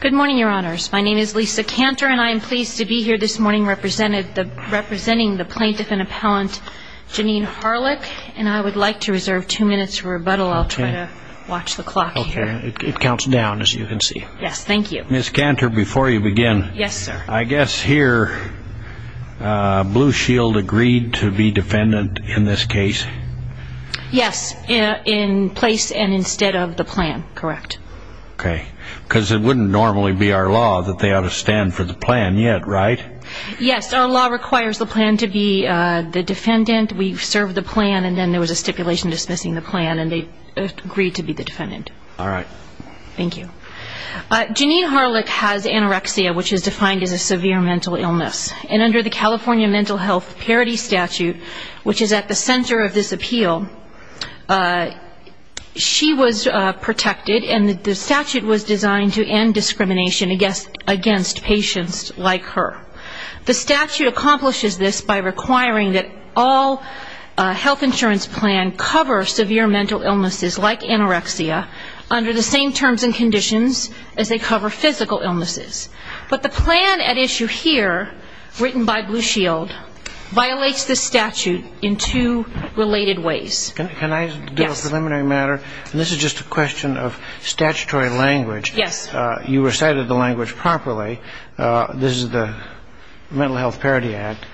Good morning, your honors. My name is Lisa Cantor and I am pleased to be here this morning representing the plaintiff and appellant Janene Harlick, and I would like to reserve two minutes for rebuttal. I'll try to watch the clock here. Okay. It counts down, as you can see. Yes, thank you. Ms. Cantor, before you begin. Yes, sir. I guess here Blue Shield agreed to be defendant in this case? Yes, in place and instead of the plan, correct. Okay. Because it wouldn't normally be our law that they ought to stand for the plan yet, right? Yes, our law requires the plan to be the defendant. We served the plan and then there was a stipulation dismissing the plan and they agreed to be the defendant. All right. Thank you. Janene Harlick has anorexia, which is defined as a severe mental illness. And under the California Mental Health Parity Statute, which is at the center of this appeal, she was protected and the statute was designed to end discrimination against patients like her. The statute accomplishes this by requiring that all health insurance plans cover severe mental illnesses like anorexia under the same terms and conditions as they cover physical illnesses. But the plan at issue here, written by Blue Shield, violates this statute in two related ways. Can I get a preliminary matter? Yes. And this is just a question of statutory language. Yes. You recited the language properly. This is the Mental Health Parity Act.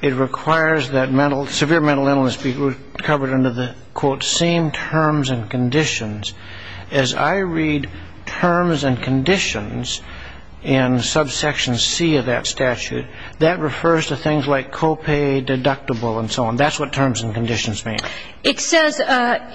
It requires that severe mental illness be covered under the, quote, same terms and conditions. As I read terms and conditions in subsection C of that statute, that refers to things like copay, deductible and so on. That's what terms and conditions mean. It says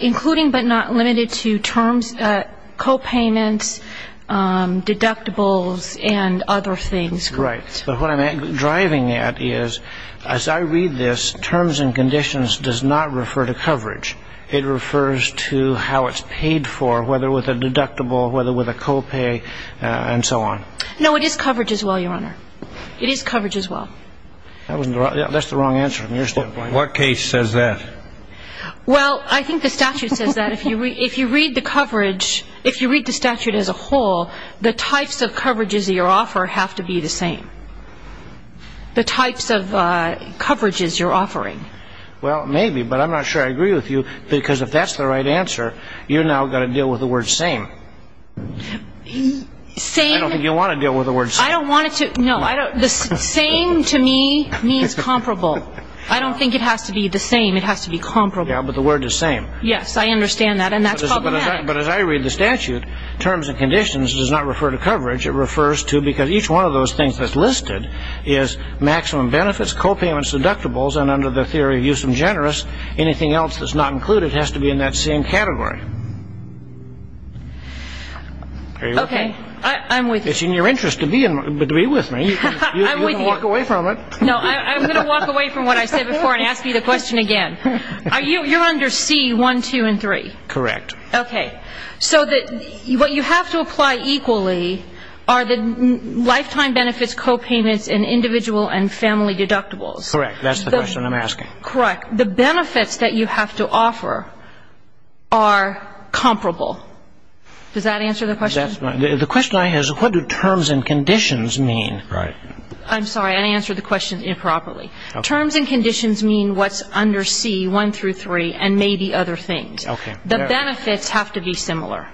including but not limited to terms, copayments, deductibles and other things. Right. But what I'm driving at is, as I read this, terms and conditions does not refer to coverage. It refers to how it's paid for, whether with a deductible, whether with a copay and so on. No, it is coverage as well, Your Honor. It is coverage as well. That's the wrong answer from your standpoint. What case says that? Well, I think the statute says that. If you read the coverage, if you read the statute as a whole, the types of coverages that you offer have to be the same. The types of coverages you're offering. Well, maybe, but I'm not sure I agree with you, because if that's the right answer, you've now got to deal with the word same. Same. I don't think you want to deal with the word same. I don't want to. No, I don't. The same to me means comparable. I don't think it has to be the same. It has to be comparable. Yeah, but the word is same. Yes, I understand that, and that's problematic. But as I read the statute, terms and conditions does not refer to coverage. It refers to, because each one of those things that's listed is maximum benefits, copayments, deductibles, and under the theory of use and generous, anything else that's not included has to be in that same category. Are you with me? Okay, I'm with you. It's in your interest to be with me. You can walk away from it. No, I'm going to walk away from what I said before and ask you the question again. You're under C-1, 2, and 3. Correct. Okay. So what you have to apply equally are the lifetime benefits, copayments, and individual and family deductibles. Correct. That's the question I'm asking. Correct. The benefits that you have to offer are comparable. Does that answer the question? The question I have is what do terms and conditions mean? Right. I'm sorry. I answered the question improperly. Terms and conditions mean what's under C-1 through 3 and maybe other things. Okay. The benefits have to be similar.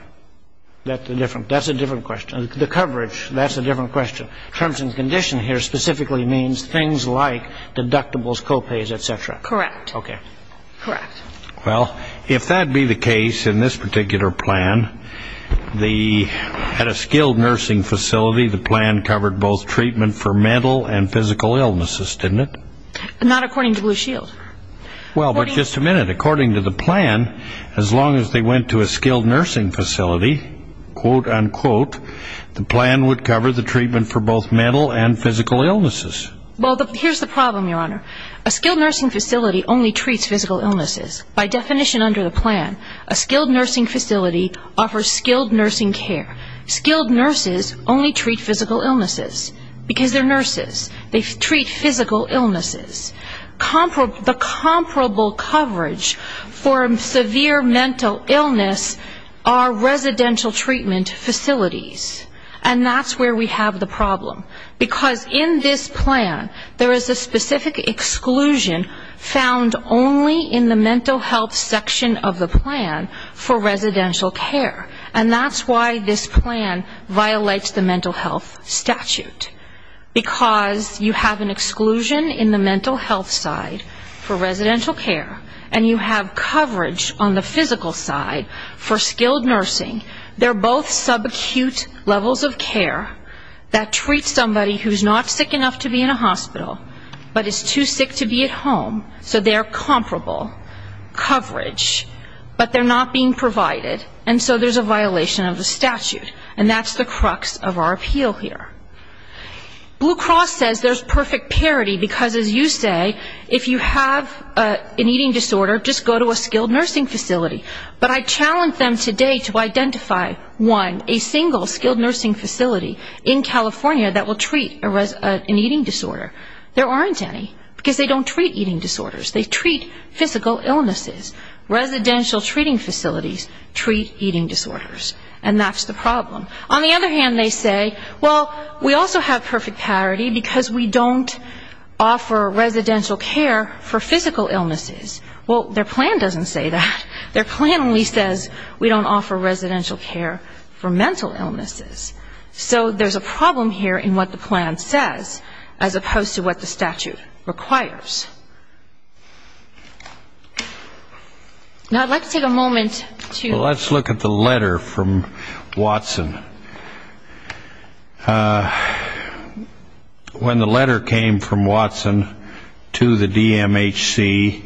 That's a different question. The coverage, that's a different question. Terms and conditions here specifically means things like deductibles, copays, et cetera. Correct. Okay. Correct. Well, if that be the case in this particular plan, at a skilled nursing facility, the plan covered both treatment for mental and physical illnesses, didn't it? Not according to Blue Shield. Well, but just a minute. According to the plan, as long as they went to a skilled nursing facility, quote, unquote, the plan would cover the treatment for both mental and physical illnesses. Well, here's the problem, Your Honor. A skilled nursing facility only treats physical illnesses. By definition under the plan, a skilled nursing facility offers skilled nursing care. Skilled nurses only treat physical illnesses because they're nurses. They treat physical illnesses. The comparable coverage for severe mental illness are residential treatment facilities. And that's where we have the problem. Because in this plan, there is a specific exclusion found only in the mental health section of the plan for residential care. And that's why this plan violates the mental health statute. Because you have an exclusion in the mental health side for residential care and you have coverage on the physical side for skilled nursing. They're both subacute levels of care that treat somebody who's not sick enough to be in a hospital but is too sick to be at home. So they're comparable coverage, but they're not being provided. And so there's a violation of the statute. And that's the crux of our appeal here. Blue Cross says there's perfect parity because, as you say, if you have an eating disorder, just go to a skilled nursing facility. But I challenge them today to identify, one, a single skilled nursing facility in California that will treat an eating disorder. There aren't any because they don't treat eating disorders. They treat physical illnesses. Residential treating facilities treat eating disorders. And that's the problem. On the other hand, they say, well, we also have perfect parity because we don't offer residential care for physical illnesses. Well, their plan doesn't say that. Their plan only says we don't offer residential care for mental illnesses. So there's a problem here in what the plan says as opposed to what the statute requires. Now, I'd like to take a moment to... from Watson. When the letter came from Watson to the DMHC,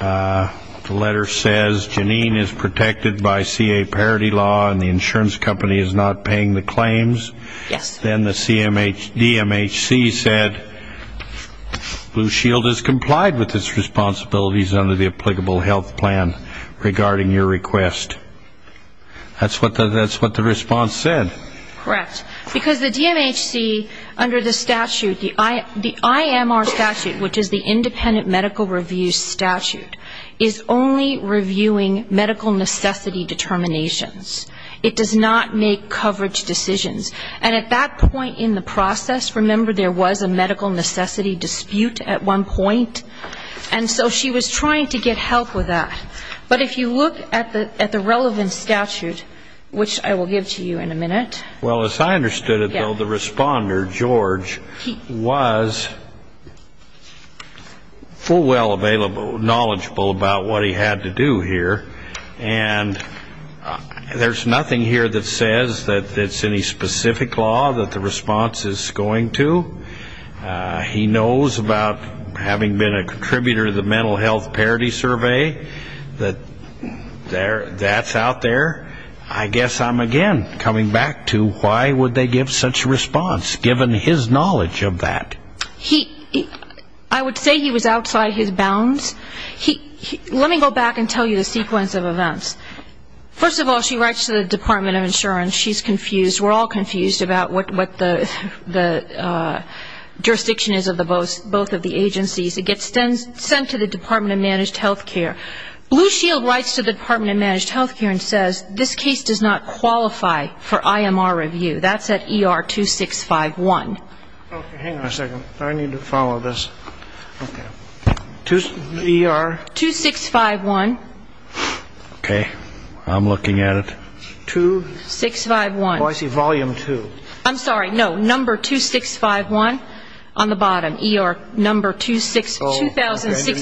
the letter says, Janine is protected by CA parity law and the insurance company is not paying the claims. Yes. Then the DMHC said, Blue Shield has complied with its responsibilities under the applicable health plan regarding your request. That's what the response said. Correct. Because the DMHC, under the statute, the IMR statute, which is the independent medical review statute, is only reviewing medical necessity determinations. It does not make coverage decisions. And at that point in the process, remember, there was a medical necessity dispute at one point, and so she was trying to get help with that. But if you look at the relevant statute, which I will give to you in a minute. Well, as I understood it, though, the responder, George, was full well available, knowledgeable about what he had to do here. And there's nothing here that says that it's any specific law that the response is going to. He knows about having been a contributor to the mental health parity survey. That's out there. I guess I'm again coming back to why would they give such a response, given his knowledge of that? I would say he was outside his bounds. Let me go back and tell you the sequence of events. We're all confused about what the jurisdiction is of both of the agencies. It gets sent to the Department of Managed Health Care. Blue Shield writes to the Department of Managed Health Care and says, this case does not qualify for IMR review. That's at ER 2651. Okay, hang on a second. I need to follow this. Okay. ER? 2651. Okay. I'm looking at it. 2651. Oh, I see. Volume 2. I'm sorry. No. Number 2651 on the bottom. ER number 2651. I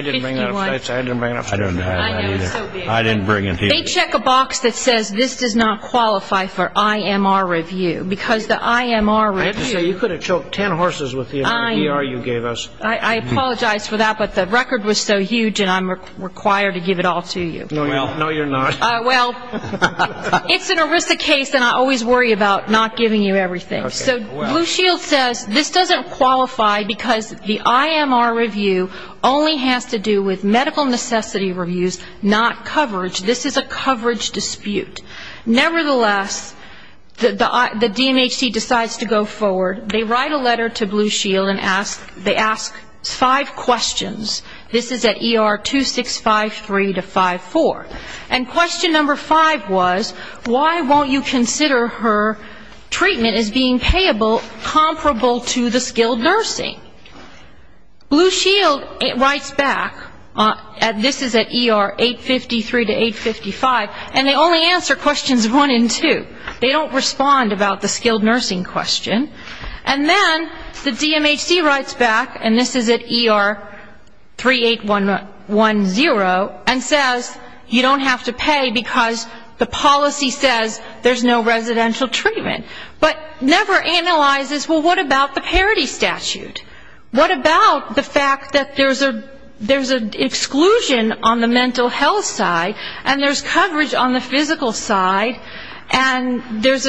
didn't bring that up. I didn't bring it up. I know. It's so bad. I didn't bring it either. They check a box that says this does not qualify for IMR review. Because the IMR review. I have to say, you could have choked ten horses with the ER you gave us. I apologize for that. But the record was so huge, and I'm required to give it all to you. No, you're not. Well, it's an ERISA case, and I always worry about not giving you everything. So Blue Shield says this doesn't qualify because the IMR review only has to do with medical necessity reviews, not coverage. This is a coverage dispute. Nevertheless, the DMHC decides to go forward. They write a letter to Blue Shield, and they ask five questions. This is at ER 2653 to 5-4. And question number five was, why won't you consider her treatment as being payable, comparable to the skilled nursing? Blue Shield writes back. This is at ER 853 to 855. And they only answer questions one and two. They don't respond about the skilled nursing question. And then the DMHC writes back, and this is at ER 38110, and says you don't have to pay because the policy says there's no residential treatment. But never analyzes, well, what about the parity statute? What about the fact that there's an exclusion on the mental health side, and there's coverage on the physical side, and there's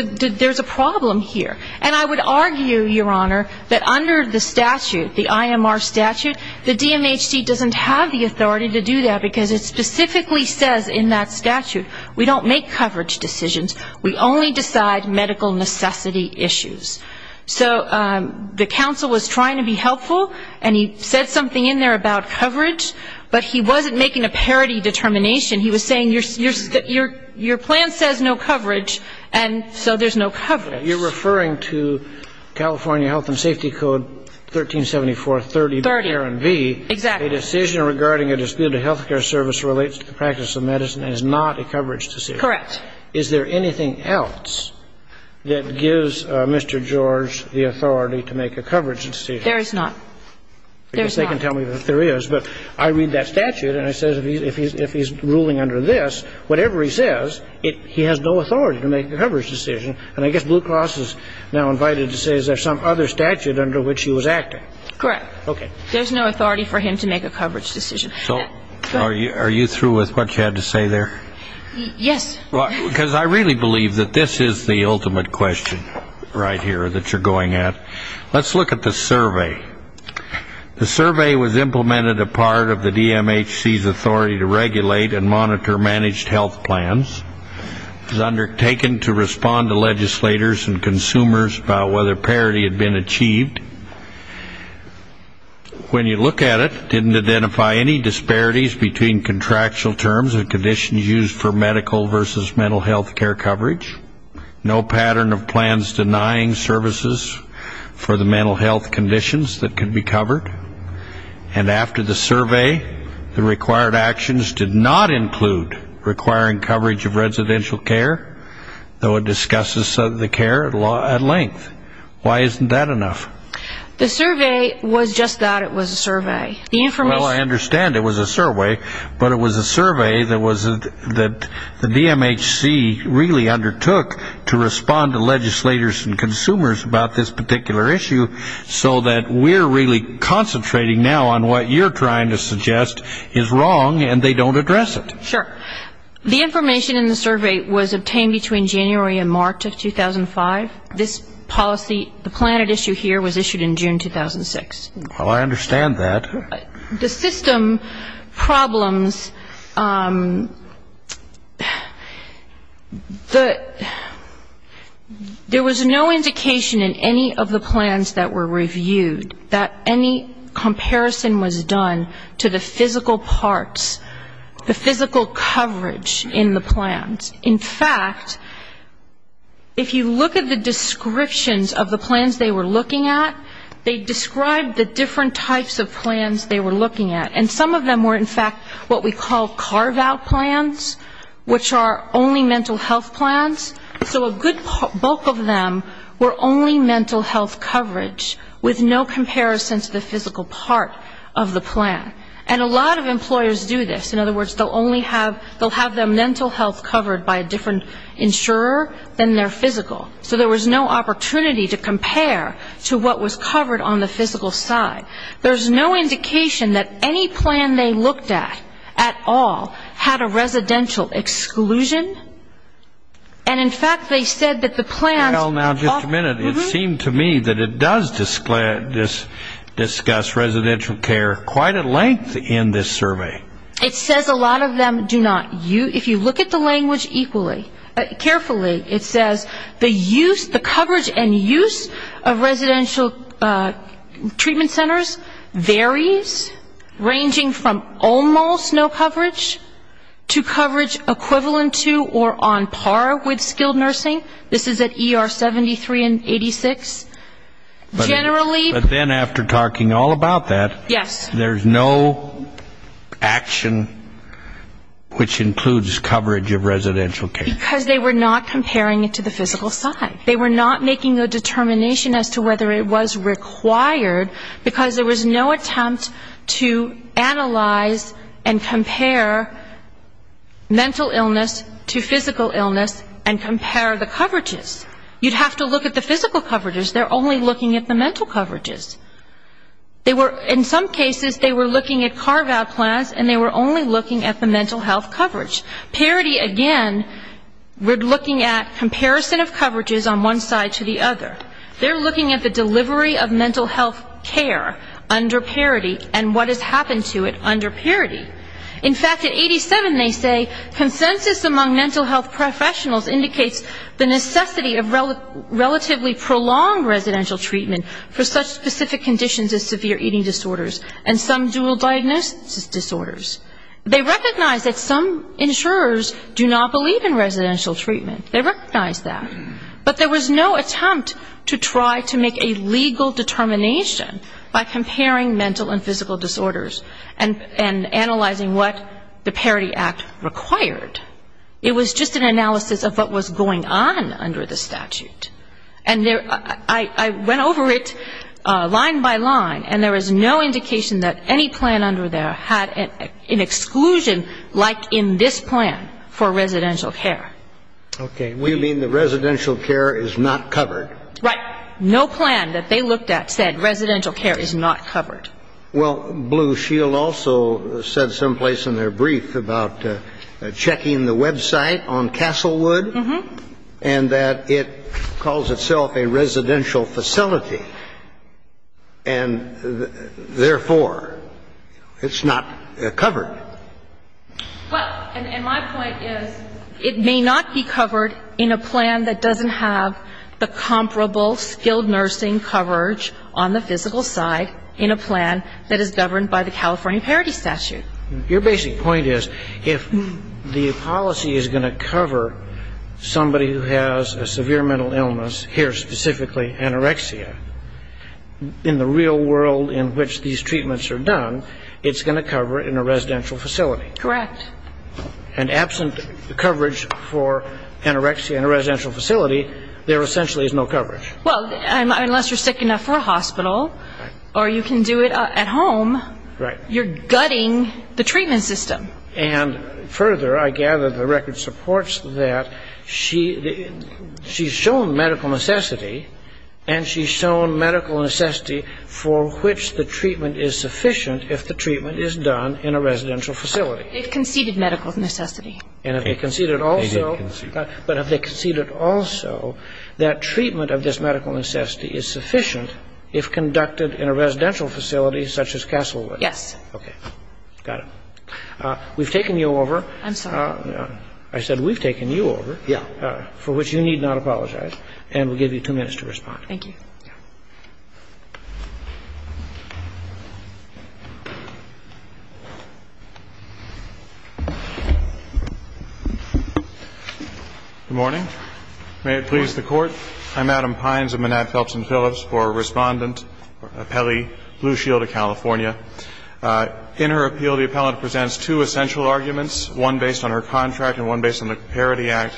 a problem here? And I would argue, Your Honor, that under the statute, the IMR statute, the DMHC doesn't have the authority to do that, because it specifically says in that statute, we don't make coverage decisions, we only decide medical necessity issues. So the counsel was trying to be helpful, and he said something in there about coverage, but he wasn't making a parity determination. He was saying your plan says no coverage, and so there's no coverage. You're referring to California Health and Safety Code 1374.30. 30, exactly. A decision regarding a dispute of health care service relates to the practice of medicine and is not a coverage decision. Correct. Is there anything else that gives Mr. George the authority to make a coverage decision? There is not. Because they can tell me that there is. But I read that statute, and it says if he's ruling under this, whatever he says, he has no authority to make a coverage decision. And I guess Blue Cross is now invited to say is there some other statute under which he was acting. Correct. Okay. There's no authority for him to make a coverage decision. So are you through with what you had to say there? Yes. Because I really believe that this is the ultimate question right here that you're going at. Let's look at the survey. The survey was implemented a part of the DMHC's authority to regulate and monitor managed health plans. It was undertaken to respond to legislators and consumers about whether parity had been achieved. When you look at it, it didn't identify any disparities between contractual terms and conditions used for medical versus mental health care coverage. No pattern of plans denying services for the mental health conditions that can be covered. And after the survey, the required actions did not include requiring coverage of residential care, though it discusses the care at length. Why isn't that enough? The survey was just that, it was a survey. Well, I understand it was a survey. But it was a survey that the DMHC really undertook to respond to legislators and consumers about this particular issue so that we're really concentrating now on what you're trying to suggest is wrong and they don't address it. Sure. The information in the survey was obtained between January and March of 2005. This policy, the plan at issue here was issued in June 2006. Well, I understand that. The system problems, there was no indication in any of the plans that were reviewed that any comparison was done to the physical parts, the physical coverage in the plans. In fact, if you look at the descriptions of the plans they were looking at, they described the different types of plans they were looking at. And some of them were, in fact, what we call carve-out plans, which are only mental health plans. So a good bulk of them were only mental health coverage with no comparison to the physical part of the plan. And a lot of employers do this. In other words, they'll have their mental health covered by a different insurer than their physical. So there was no opportunity to compare to what was covered on the physical side. There's no indication that any plan they looked at at all had a residential exclusion. And, in fact, they said that the plans... Well, now, just a minute. It seemed to me that it does discuss residential care quite at length in this survey. It says a lot of them do not. If you look at the language equally, carefully, it says the use, the coverage and use of residential treatment centers varies ranging from almost no coverage to coverage equivalent to or on par with skilled nursing. This is at ER 73 and 86. Generally... Because they were not comparing it to the physical side. They were not making a determination as to whether it was required, because there was no attempt to analyze and compare mental illness to physical illness and compare the coverages. You'd have to look at the physical coverages. They're only looking at the mental coverages. They were... In some cases, they were looking at carve-out plans and they were only looking at the mental health coverage. Parity, again, we're looking at comparison of coverages on one side to the other. They're looking at the delivery of mental health care under parity and what has happened to it under parity. In fact, at 87, they say, consensus among mental health professionals indicates the necessity of relatively prolonged residential treatment for such specific conditions as severe eating disorders and some dual diagnosis disorders. They recognize that some insurers do not believe in residential treatment. They recognize that. But there was no attempt to try to make a legal determination by comparing mental and physical disorders and analyzing what the Parity Act required. It was just an analysis of what was going on under the statute. And I went over it line by line, and there was no indication that any plan under there had an exclusion like in this plan for residential care. Okay. We mean the residential care is not covered. Right. No plan that they looked at said residential care is not covered. Well, Blue Shield also said someplace in their brief about checking the website on Castlewood and that it calls itself a residential facility and, therefore, it's not covered. Well, and my point is it may not be covered in a plan that doesn't have the comparable skilled nursing coverage on the physical side in a plan that is governed by the California Parity Statute. Your basic point is if the policy is going to cover somebody who has a severe mental illness, here specifically anorexia, in the real world in which these treatments are done, it's going to cover in a residential facility. Correct. And absent coverage for anorexia in a residential facility, there essentially is no coverage. Well, unless you're sick enough for a hospital or you can do it at home. Right. You're gutting the treatment system. And, further, I gather the record supports that she's shown medical necessity and she's shown medical necessity for which the treatment is sufficient if the treatment is done in a residential facility. They've conceded medical necessity. And if they conceded also. They did concede. But if they conceded also that treatment of this medical necessity is sufficient if conducted in a residential facility such as Castlewood. Yes. Okay. Got it. We've taken you over. I'm sorry. I said we've taken you over. Yeah. For which you need not apologize. And we'll give you two minutes to respond. Thank you. Good morning. May it please the Court. I'm Adam Pines. I'm a man at Phelps and Phillips for Respondent, Appellee Blue Shield of California. In her appeal, the appellant presents two essential arguments, one based on her contract and one based on the Parity Act.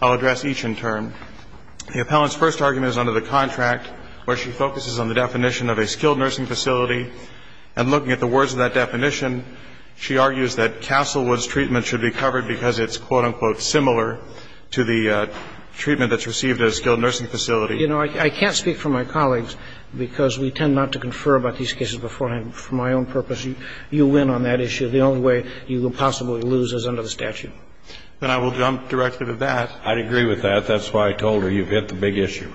I'll address each in turn. The appellant's first argument is under the contract where she focuses on the definition of a skilled nursing facility. And looking at the words of that definition, she argues that Castlewood's treatment should be covered because it's, quote, unquote, similar to the treatment that's received at a skilled nursing facility. You know, I can't speak for my colleagues because we tend not to confer about these cases beforehand. For my own purpose, you win on that issue. The only way you will possibly lose is under the statute. Then I will jump directly to that. I'd agree with that. That's why I told her you've hit the big issue.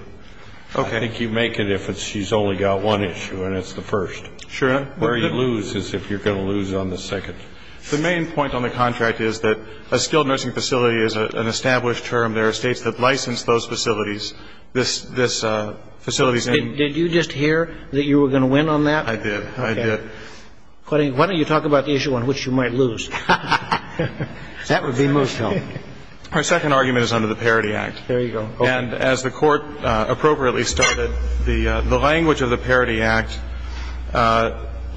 Okay. I think you make it if she's only got one issue and it's the first. Sure. Where you lose is if you're going to lose on the second. The main point on the contract is that a skilled nursing facility is an established term. There are states that license those facilities, this facility's name. Did you just hear that you were going to win on that? I did. I did. Why don't you talk about the issue on which you might lose? That would be most helpful. Her second argument is under the Parity Act. There you go. And as the Court appropriately stated, the language of the Parity Act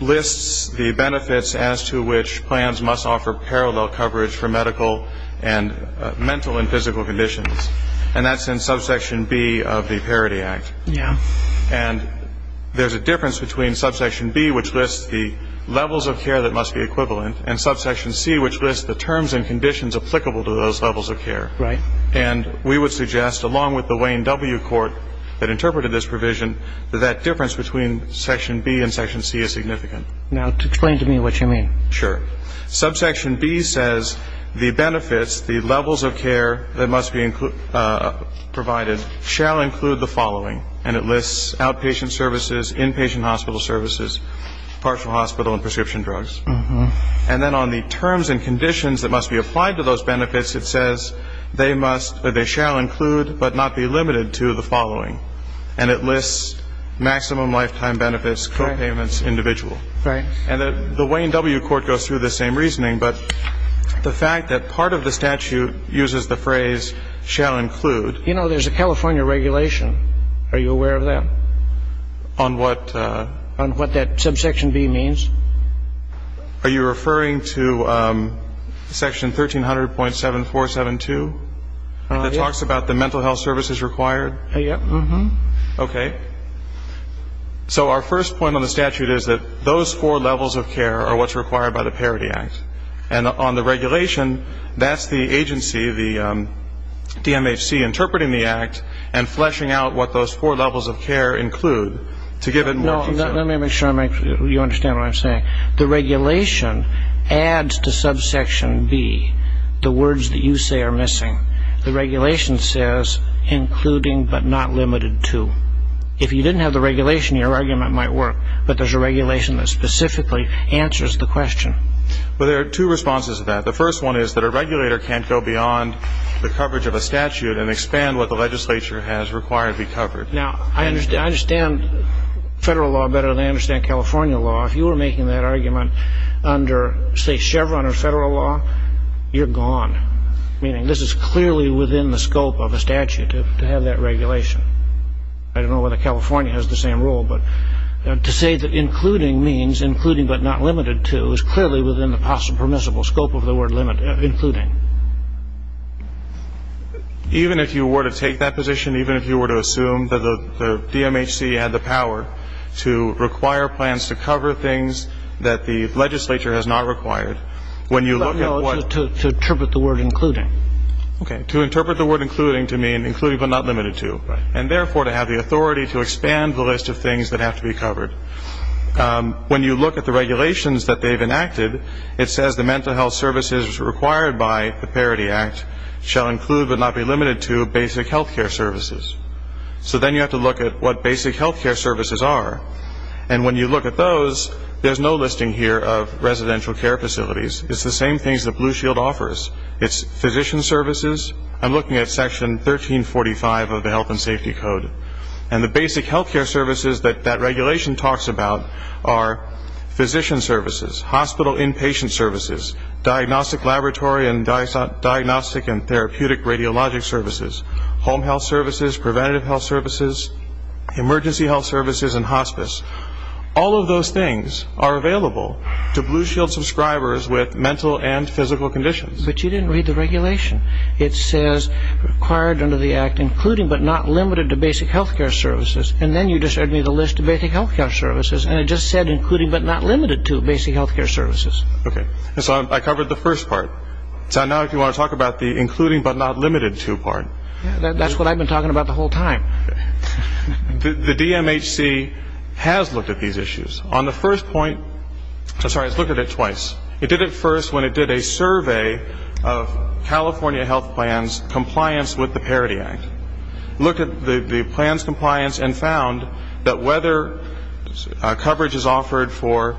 lists the benefits as to which plans must offer parallel coverage for medical and mental and physical conditions. And that's in subsection B of the Parity Act. Yeah. And there's a difference between subsection B, which lists the levels of care that must be equivalent, and subsection C, which lists the terms and conditions applicable to those levels of care. Right. And we would suggest, along with the Wayne W. Court that interpreted this provision, that that difference between section B and section C is significant. Now, explain to me what you mean. Sure. Subsection B says the benefits, the levels of care that must be provided shall include the following. And it lists outpatient services, inpatient hospital services, partial hospital and prescription drugs. And then on the terms and conditions that must be applied to those benefits, it says they must or they shall include but not be limited to the following. And it lists maximum lifetime benefits, co-payments, individual. Right. And the Wayne W. Court goes through the same reasoning. But the fact that part of the statute uses the phrase shall include. You know, there's a California regulation. Are you aware of that? On what? On what that subsection B means. Are you referring to section 1300.7472? Yes. And it talks about the mental health services required? Yes. Okay. So our first point on the statute is that those four levels of care are what's required by the Parity Act. And on the regulation, that's the agency, the DMHC, interpreting the act and fleshing out what those four levels of care include. To give it more detail. No, let me make sure you understand what I'm saying. The regulation adds to subsection B the words that you say are missing. The regulation says including but not limited to. If you didn't have the regulation, your argument might work. But there's a regulation that specifically answers the question. Well, there are two responses to that. The first one is that a regulator can't go beyond the coverage of a statute and expand what the legislature has required to be covered. Now, I understand federal law better than I understand California law. If you were making that argument under, say, Chevron or federal law, you're gone. Meaning this is clearly within the scope of a statute to have that regulation. I don't know whether California has the same rule, but to say that including means including but not limited to is clearly within the possible permissible scope of the word including. Even if you were to take that position, even if you were to assume that the DMHC had the power to require plans to cover things to interpret the word including. Okay. To interpret the word including to mean including but not limited to. And therefore, to have the authority to expand the list of things that have to be covered. When you look at the regulations that they've enacted, it says the mental health services required by the Parity Act shall include but not be limited to basic health care services. So then you have to look at what basic health care services are. And when you look at those, there's no listing here of residential care facilities. It's the same things that Blue Shield offers. It's physician services. I'm looking at Section 1345 of the Health and Safety Code. And the basic health care services that that regulation talks about are physician services, hospital inpatient services, diagnostic laboratory and diagnostic and therapeutic radiologic services, home health services, preventative health services, emergency health services, and hospice. All of those things are available to Blue Shield subscribers with mental and physical conditions. But you didn't read the regulation. It says required under the Act including but not limited to basic health care services. And then you just read me the list of basic health care services, and it just said including but not limited to basic health care services. Okay. So I covered the first part. So now if you want to talk about the including but not limited to part. That's what I've been talking about the whole time. The DMHC has looked at these issues. On the first point, I'm sorry, it's looked at it twice. It did it first when it did a survey of California health plans compliance with the Parity Act. Looked at the plans compliance and found that whether coverage is offered for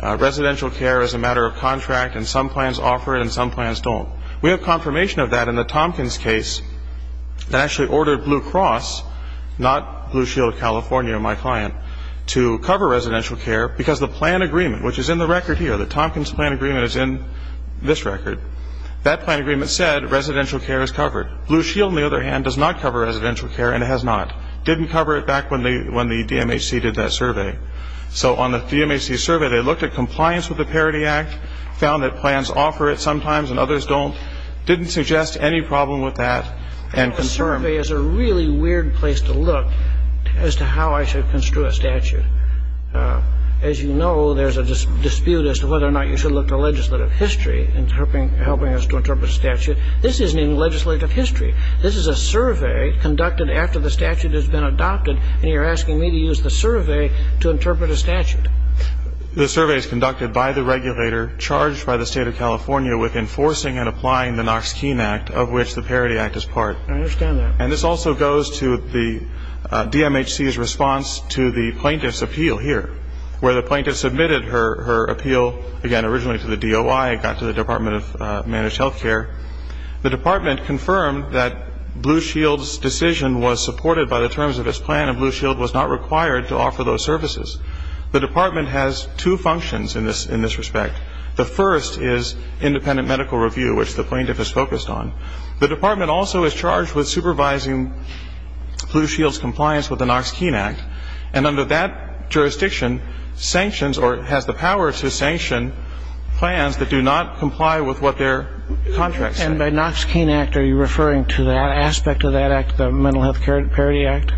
residential care as a matter of contract, and some plans offer it and some plans don't. We have confirmation of that in the Tompkins case that actually ordered Blue Cross, not Blue Shield California, my client, to cover residential care because the plan agreement, which is in the record here, the Tompkins plan agreement is in this record. That plan agreement said residential care is covered. Blue Shield, on the other hand, does not cover residential care, and it has not. Didn't cover it back when the DMHC did that survey. So on the DMHC survey, they looked at compliance with the Parity Act, found that plans offer it sometimes and others don't. Didn't suggest any problem with that. The survey is a really weird place to look as to how I should construe a statute. As you know, there's a dispute as to whether or not you should look to legislative history in helping us to interpret a statute. This isn't even legislative history. This is a survey conducted after the statute has been adopted, and you're asking me to use the survey to interpret a statute. The survey is conducted by the regulator charged by the State of California with enforcing and applying the Knox-Keene Act, of which the Parity Act is part. I understand that. And this also goes to the DMHC's response to the plaintiff's appeal here, where the plaintiff submitted her appeal, again, originally to the DOI. It got to the Department of Managed Health Care. The department confirmed that Blue Shield's decision was supported by the terms of its plan, and Blue Shield was not required to offer those services. The department has two functions in this respect. The first is independent medical review, which the plaintiff is focused on. The department also is charged with supervising Blue Shield's compliance with the Knox-Keene Act, and under that jurisdiction sanctions or has the power to sanction plans that do not comply with what their contracts say. And by Knox-Keene Act, are you referring to that aspect of that act, the Mental Health Parity Act?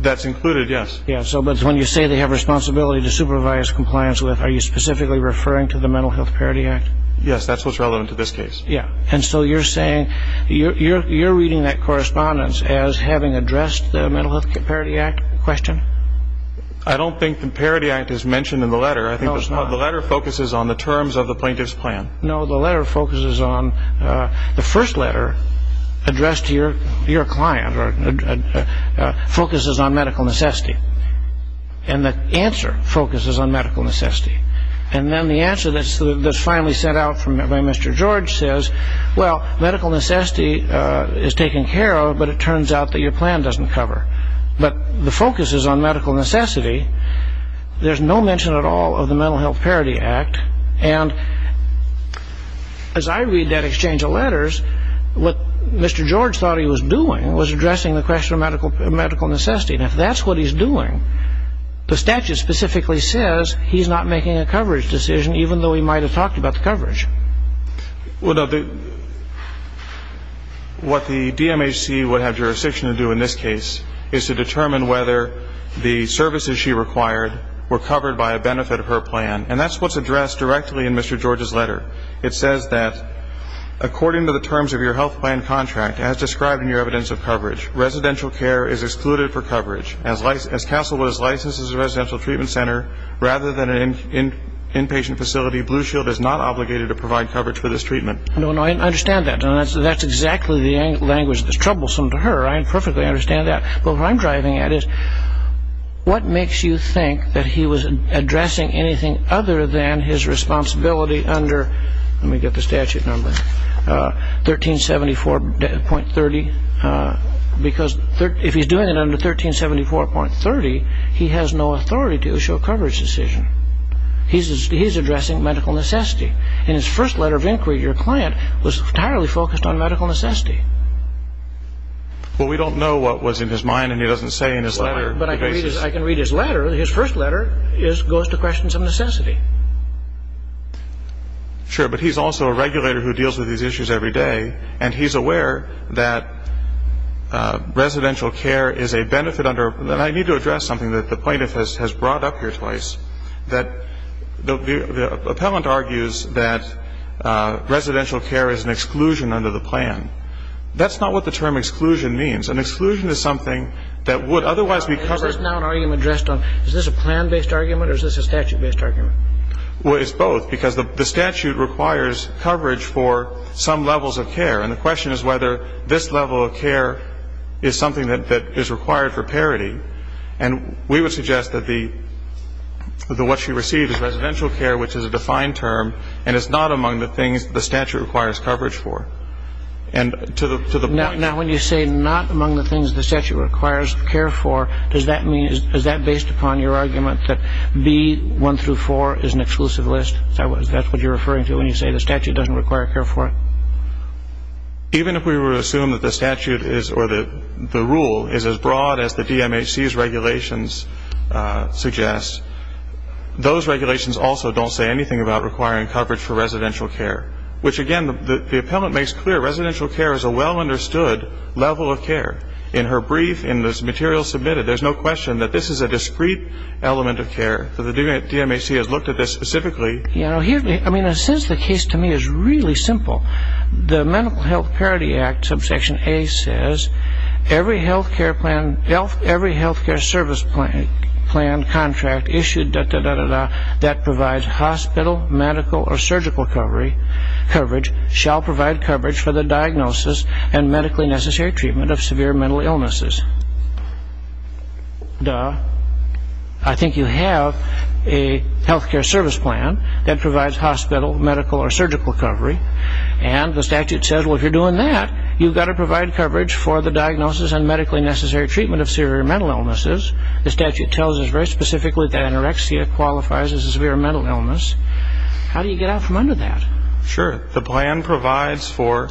That's included, yes. Yes, but when you say they have responsibility to supervise compliance with, are you specifically referring to the Mental Health Parity Act? Yes, that's what's relevant to this case. Yes, and so you're saying you're reading that correspondence as having addressed the Mental Health Parity Act question? I don't think the Parity Act is mentioned in the letter. No, it's not. I think the letter focuses on the terms of the plaintiff's plan. No, the first letter addressed to your client focuses on medical necessity, and the answer focuses on medical necessity. And then the answer that's finally sent out by Mr. George says, well, medical necessity is taken care of, but it turns out that your plan doesn't cover. But the focus is on medical necessity. There's no mention at all of the Mental Health Parity Act, and as I read that exchange of letters, what Mr. George thought he was doing was addressing the question of medical necessity, and if that's what he's doing, the statute specifically says he's not making a coverage decision, even though he might have talked about the coverage. What the DMHC would have jurisdiction to do in this case is to determine whether the services she required were covered by a benefit of her plan, and that's what's addressed directly in Mr. George's letter. It says that according to the terms of your health plan contract, as described in your evidence of coverage, residential care is excluded for coverage. As counsel was licensed as a residential treatment center, rather than an inpatient facility, Blue Shield is not obligated to provide coverage for this treatment. No, no, I understand that. That's exactly the language that's troublesome to her. I perfectly understand that. But what I'm driving at is, what makes you think that he was addressing anything other than his responsibility under, let me get the statute number, 1374.30? Because if he's doing it under 1374.30, he has no authority to issue a coverage decision. He's addressing medical necessity. In his first letter of inquiry, your client was entirely focused on medical necessity. Well, we don't know what was in his mind, and he doesn't say in his letter. But I can read his letter. His first letter goes to questions of necessity. Sure, but he's also a regulator who deals with these issues every day, and he's aware that residential care is a benefit under, and I need to address something that the plaintiff has brought up here twice, that the appellant argues that residential care is an exclusion under the plan. That's not what the term exclusion means. An exclusion is something that would otherwise be covered. Is this now an argument addressed on, is this a plan-based argument or is this a statute-based argument? Well, it's both, because the statute requires coverage for some levels of care, and the question is whether this level of care is something that is required for parity. And we would suggest that what she received is residential care, which is a defined term, and it's not among the things the statute requires coverage for. And to the point. Now, when you say not among the things the statute requires care for, does that mean, is that based upon your argument that B1 through 4 is an exclusive list? That's what you're referring to when you say the statute doesn't require care for it? Even if we were to assume that the rule is as broad as the DMHC's regulations suggest, those regulations also don't say anything about requiring coverage for residential care, which, again, the appellant makes clear residential care is a well-understood level of care. In her brief, in this material submitted, there's no question that this is a discrete element of care. The DMHC has looked at this specifically. I mean, in a sense, the case to me is really simple. The Medical Health Parity Act, subsection A, says, every health care service plan contract issued, da-da-da-da-da, that provides hospital, medical, or surgical coverage shall provide coverage for the diagnosis and medically necessary treatment of severe mental illnesses. Duh. I think you have a health care service plan that provides hospital, medical, or surgical coverage, and the statute says, well, if you're doing that, you've got to provide coverage for the diagnosis and medically necessary treatment of severe mental illnesses. The statute tells us very specifically that anorexia qualifies as a severe mental illness. How do you get out from under that? Sure. The plan provides for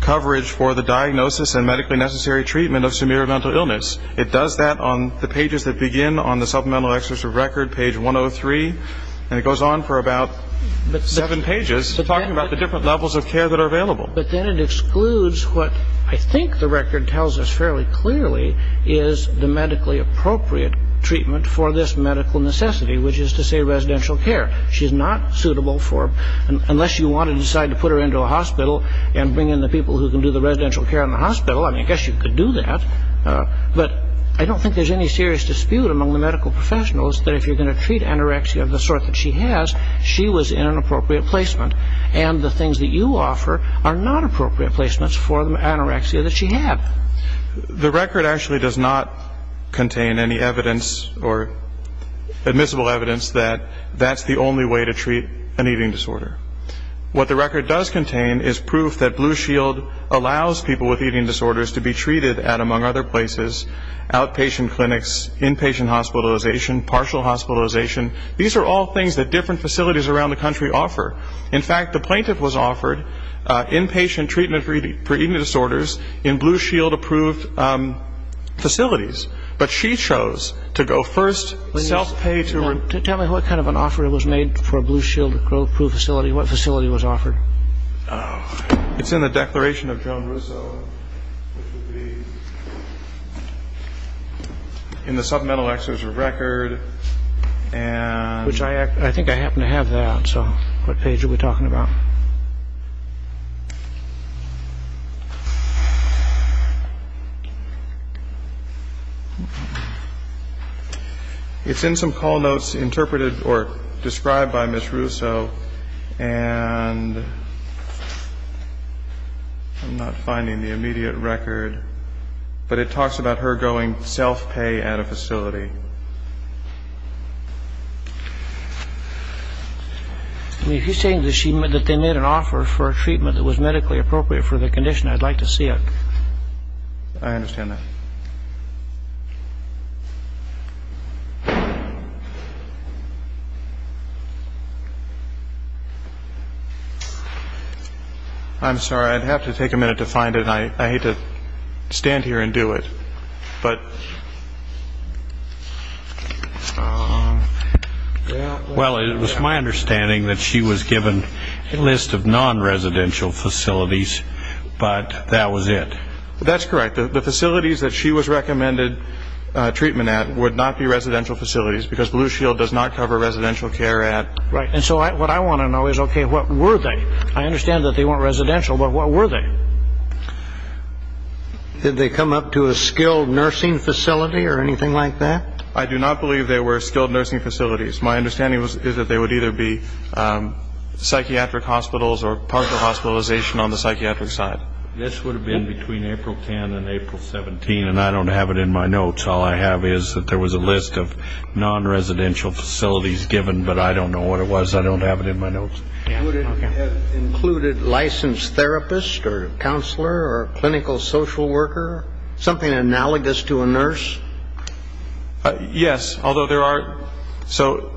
coverage for the diagnosis and medically necessary treatment of severe mental illness. It does that on the pages that begin on the supplemental exercise record, page 103, and it goes on for about seven pages, talking about the different levels of care that are available. But then it excludes what I think the record tells us fairly clearly is the medically appropriate treatment for this medical necessity, which is to say residential care. She's not suitable for, unless you want to decide to put her into a hospital and bring in the people who can do the residential care in the hospital. I mean, I guess you could do that. But I don't think there's any serious dispute among the medical professionals that if you're going to treat anorexia of the sort that she has, she was in an appropriate placement. And the things that you offer are not appropriate placements for the anorexia that she had. The record actually does not contain any evidence or admissible evidence that that's the only way to treat an eating disorder. What the record does contain is proof that Blue Shield allows people with eating disorders to be treated at, among other places, outpatient clinics, inpatient hospitalization, partial hospitalization. These are all things that different facilities around the country offer. In fact, the plaintiff was offered inpatient treatment for eating disorders in Blue Shield-approved facilities. But she chose to go first, self-pay to her. Tell me what kind of an offer was made for a Blue Shield-approved facility. What facility was offered? It's in the Declaration of Joan Russo, which would be in the Supplemental Act. There's a record. I think I happen to have that. So what page are we talking about? It's in some call notes interpreted or described by Ms. Russo. And I'm not finding the immediate record. But it talks about her going self-pay at a facility. If you're saying that they made an offer for a treatment that was medically appropriate for the condition, I'd like to see it. I understand that. I'm sorry. I'd have to take a minute to find it. I hate to stand here and do it. But... Well, it was my understanding that she was given a list of non-residential facilities, but that was it. That's correct. The facilities that she was recommended treatment at would not be residential facilities because Blue Shield does not cover residential care at... Right. And so what I want to know is, okay, what were they? I understand that they weren't residential, but what were they? Did they come up to a skilled nursing facility or anything like that? I do not believe they were skilled nursing facilities. My understanding is that they would either be psychiatric hospitals or partial hospitalization on the psychiatric side. This would have been between April 10 and April 17, and I don't have it in my notes. All I have is that there was a list of non-residential facilities given, but I don't know what it was. I don't have it in my notes. Would it have included licensed therapists or a counselor or a clinical social worker, something analogous to a nurse? Yes, although there are... So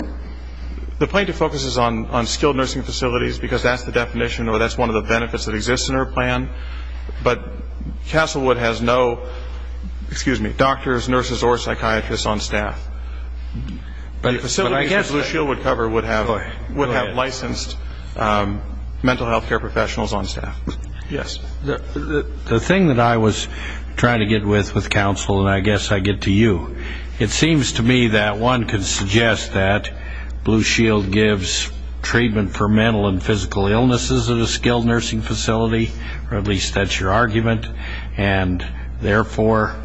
the plaintiff focuses on skilled nursing facilities because that's the definition or that's one of the benefits that exists in her plan, but Castlewood has no doctors, nurses, or psychiatrists on staff. The facilities that Blue Shield would cover would have licensed mental health care professionals on staff. Yes. The thing that I was trying to get with counsel, and I guess I get to you, it seems to me that one could suggest that Blue Shield gives treatment for mental and physical illnesses at a skilled nursing facility, or at least that's your argument, and therefore,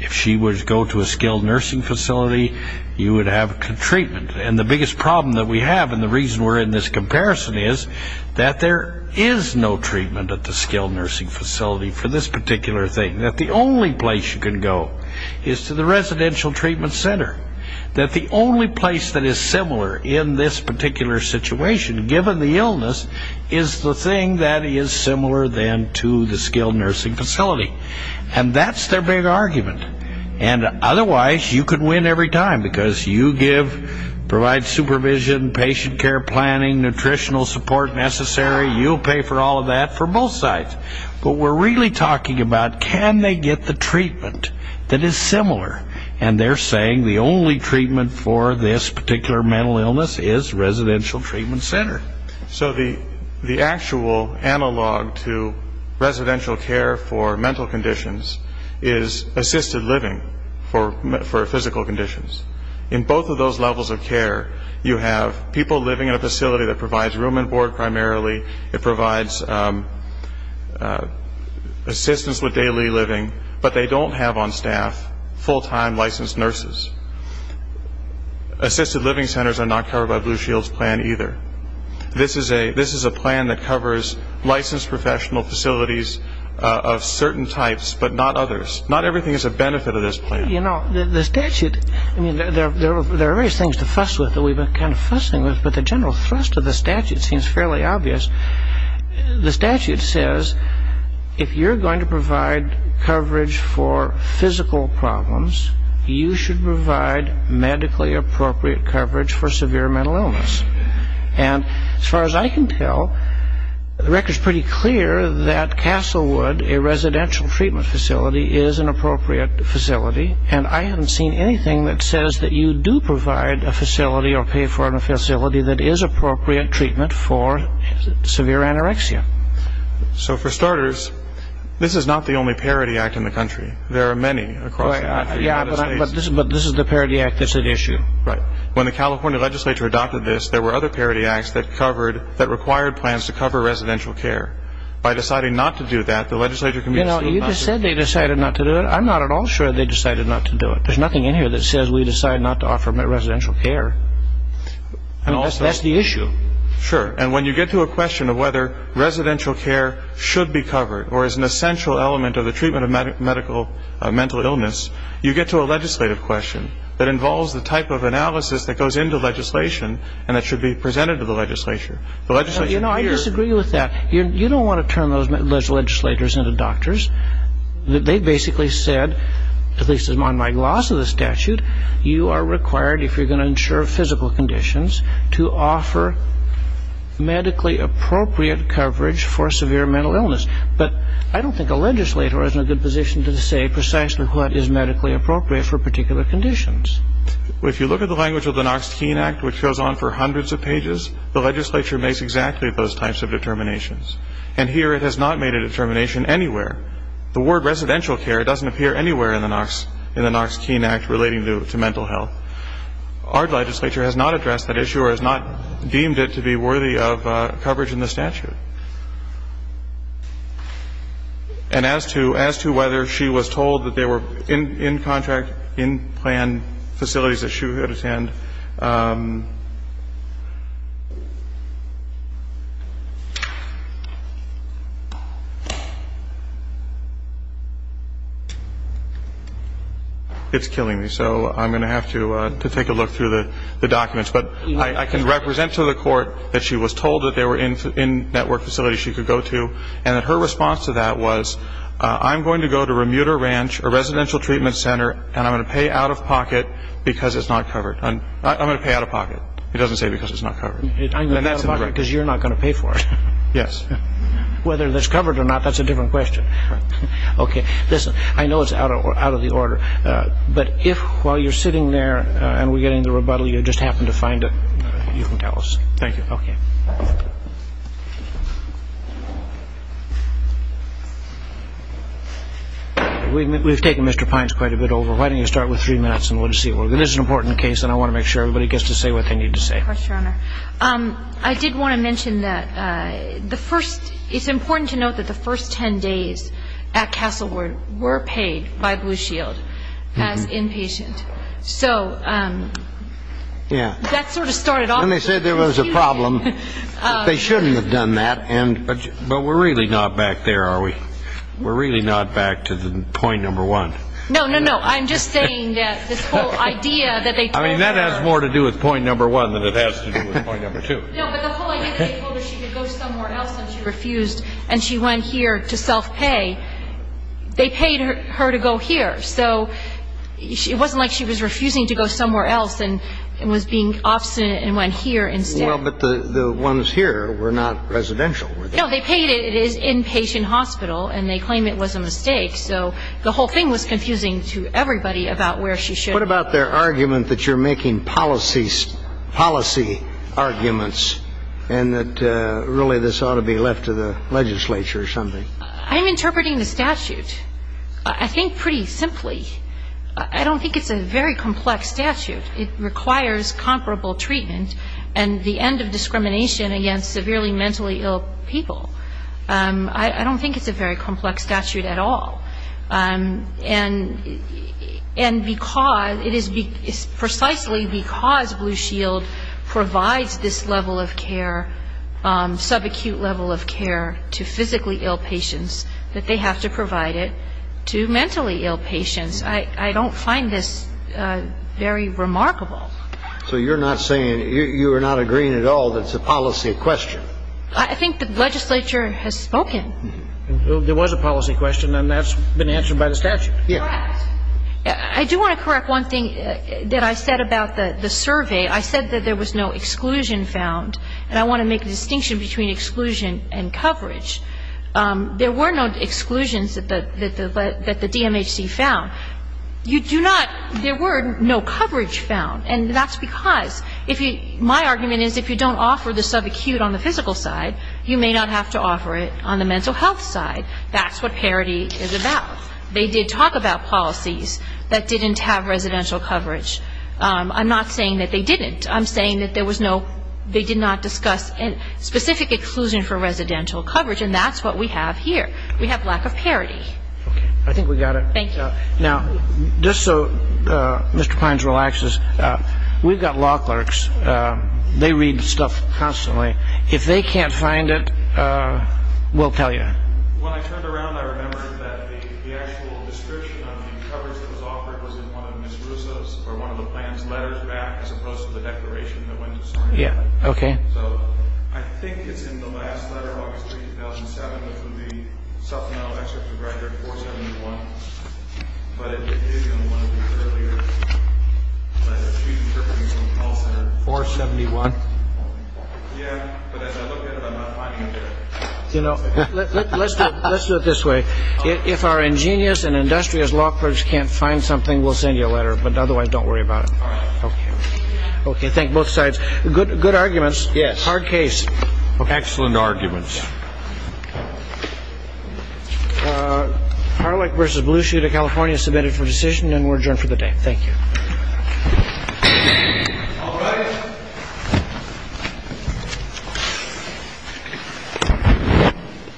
if she would go to a skilled nursing facility, you would have treatment. And the biggest problem that we have, and the reason we're in this comparison, is that there is no treatment at the skilled nursing facility for this particular thing. That the only place you can go is to the residential treatment center. That the only place that is similar in this particular situation, given the illness, is the thing that is similar then to the skilled nursing facility. And that's their big argument. And otherwise, you could win every time because you give, provide supervision, patient care planning, nutritional support necessary. You'll pay for all of that for both sides. But we're really talking about can they get the treatment that is similar. And they're saying the only treatment for this particular mental illness is residential treatment center. So the actual analog to residential care for mental conditions is assisted living for physical conditions. In both of those levels of care, you have people living in a facility that provides room and board primarily. It provides assistance with daily living, but they don't have on staff full-time licensed nurses. Assisted living centers are not covered by Blue Shield's plan either. This is a plan that covers licensed professional facilities of certain types, but not others. Not everything is a benefit of this plan. You know, the statute, I mean, there are various things to fuss with that we've been kind of fussing with, but the general thrust of the statute seems fairly obvious. The statute says if you're going to provide coverage for physical problems, you should provide medically appropriate coverage for severe mental illness. And as far as I can tell, the record's pretty clear that Castlewood, a residential treatment facility, is an appropriate facility. And I haven't seen anything that says that you do provide a facility or pay for a facility that is appropriate treatment for severe anorexia. So for starters, this is not the only Parity Act in the country. There are many across the country. Yeah, but this is the Parity Act that's at issue. Right. When the California legislature adopted this, there were other Parity Acts that covered, that required plans to cover residential care. By deciding not to do that, the legislature can be sued. You just said they decided not to do it. I'm not at all sure they decided not to do it. There's nothing in here that says we decided not to offer residential care. That's the issue. Sure. And when you get to a question of whether residential care should be covered or is an essential element of the treatment of mental illness, you get to a legislative question that involves the type of analysis that goes into legislation and that should be presented to the legislature. You know, I disagree with that. You don't want to turn those legislators into doctors. They basically said, at least on my gloss of the statute, you are required, if you're going to ensure physical conditions, to offer medically appropriate coverage for severe mental illness. But I don't think a legislator is in a good position to say precisely what is medically appropriate for particular conditions. If you look at the language of the Knox-Keene Act, which goes on for hundreds of pages, the legislature makes exactly those types of determinations. And here it has not made a determination anywhere. The word residential care doesn't appear anywhere in the Knox-Keene Act relating to mental health. Our legislature has not addressed that issue or has not deemed it to be worthy of coverage in the statute. And as to whether she was told that there were in-contract, in-plan facilities that she would attend, it's killing me, so I'm going to have to take a look through the documents. But I can represent to the court that she was told that there were in-network facilities she could go to and that her response to that was, I'm going to go to Remuter Ranch, a residential treatment center, and I'm going to pay out-of-pocket because it's not covered. I'm going to pay out-of-pocket. It doesn't say because it's not covered. I'm going to pay out-of-pocket because you're not going to pay for it. Yes. Whether that's covered or not, that's a different question. Okay. Listen, I know it's out of the order, but if while you're sitting there and we're getting the rebuttal you just happen to find it, you can tell us. Thank you. Okay. We've taken Mr. Pines quite a bit over. Why don't you start with three minutes and we'll see. This is an important case, and I want to make sure everybody gets to say what they need to say. Yes, Your Honor. I did want to mention that the first, it's important to note that the first ten days at Castlewood were paid by Blue Shield as inpatient. So that sort of started off as an excuse. And they said there was a problem. They shouldn't have done that. But we're really not back there, are we? We're really not back to the point number one. No, no, no. I'm just saying that this whole idea that they told her. I mean, that has more to do with point number one than it has to do with point number two. No, but the whole idea that they told her she could go somewhere else and she refused, and she went here to self-pay, they paid her to go here. So it wasn't like she was refusing to go somewhere else and was being obstinate and went here instead. Well, but the ones here were not residential. No, they paid it. It is inpatient hospital, and they claim it was a mistake. So the whole thing was confusing to everybody about where she should have gone. And that really this ought to be left to the legislature or something. I'm interpreting the statute, I think, pretty simply. I don't think it's a very complex statute. It requires comparable treatment and the end of discrimination against severely mentally ill people. I don't think it's a very complex statute at all. And because it is precisely because Blue Shield provides this level of care, subacute level of care to physically ill patients, that they have to provide it to mentally ill patients. I don't find this very remarkable. So you're not saying, you are not agreeing at all that it's a policy question? I think the legislature has spoken. There was a policy question, and that's been answered by the statute. Correct. I do want to correct one thing that I said about the survey. I said that there was no exclusion found, and I want to make a distinction between exclusion and coverage. There were no exclusions that the DMHC found. You do not, there were no coverage found, and that's because if you, my argument is if you don't offer the subacute on the physical side, you may not have to offer it on the mental health side. That's what parity is about. They did talk about policies that didn't have residential coverage. I'm not saying that they didn't. I'm saying that there was no, they did not discuss specific exclusion for residential coverage, and that's what we have here. We have lack of parity. Okay. I think we got it. Thank you. Now, just so Mr. Pines relaxes, we've got law clerks. They read stuff constantly. Okay. If they can't find it, we'll tell you. When I turned around, I remembered that the actual description of the coverage that was offered was in one of Ms. Russo's, or one of the plan's letters back, as opposed to the declaration that went to Sarnia. Yeah. Okay. So I think it's in the last letter, August 3, 2007. This would be supplemental excerpt to graduate 471, but it did in one of the earlier letters, 471. Yeah, but as I look at it, I'm not finding it there. You know, let's do it this way. If our ingenious and industrious law clerks can't find something, we'll send you a letter. But otherwise, don't worry about it. All right. Okay. Okay, thank both sides. Good arguments. Yes. Hard case. Excellent arguments. Yeah. Harlech versus Blueshooter, California submitted for decision, and we're adjourned for the day. Thank you. All right.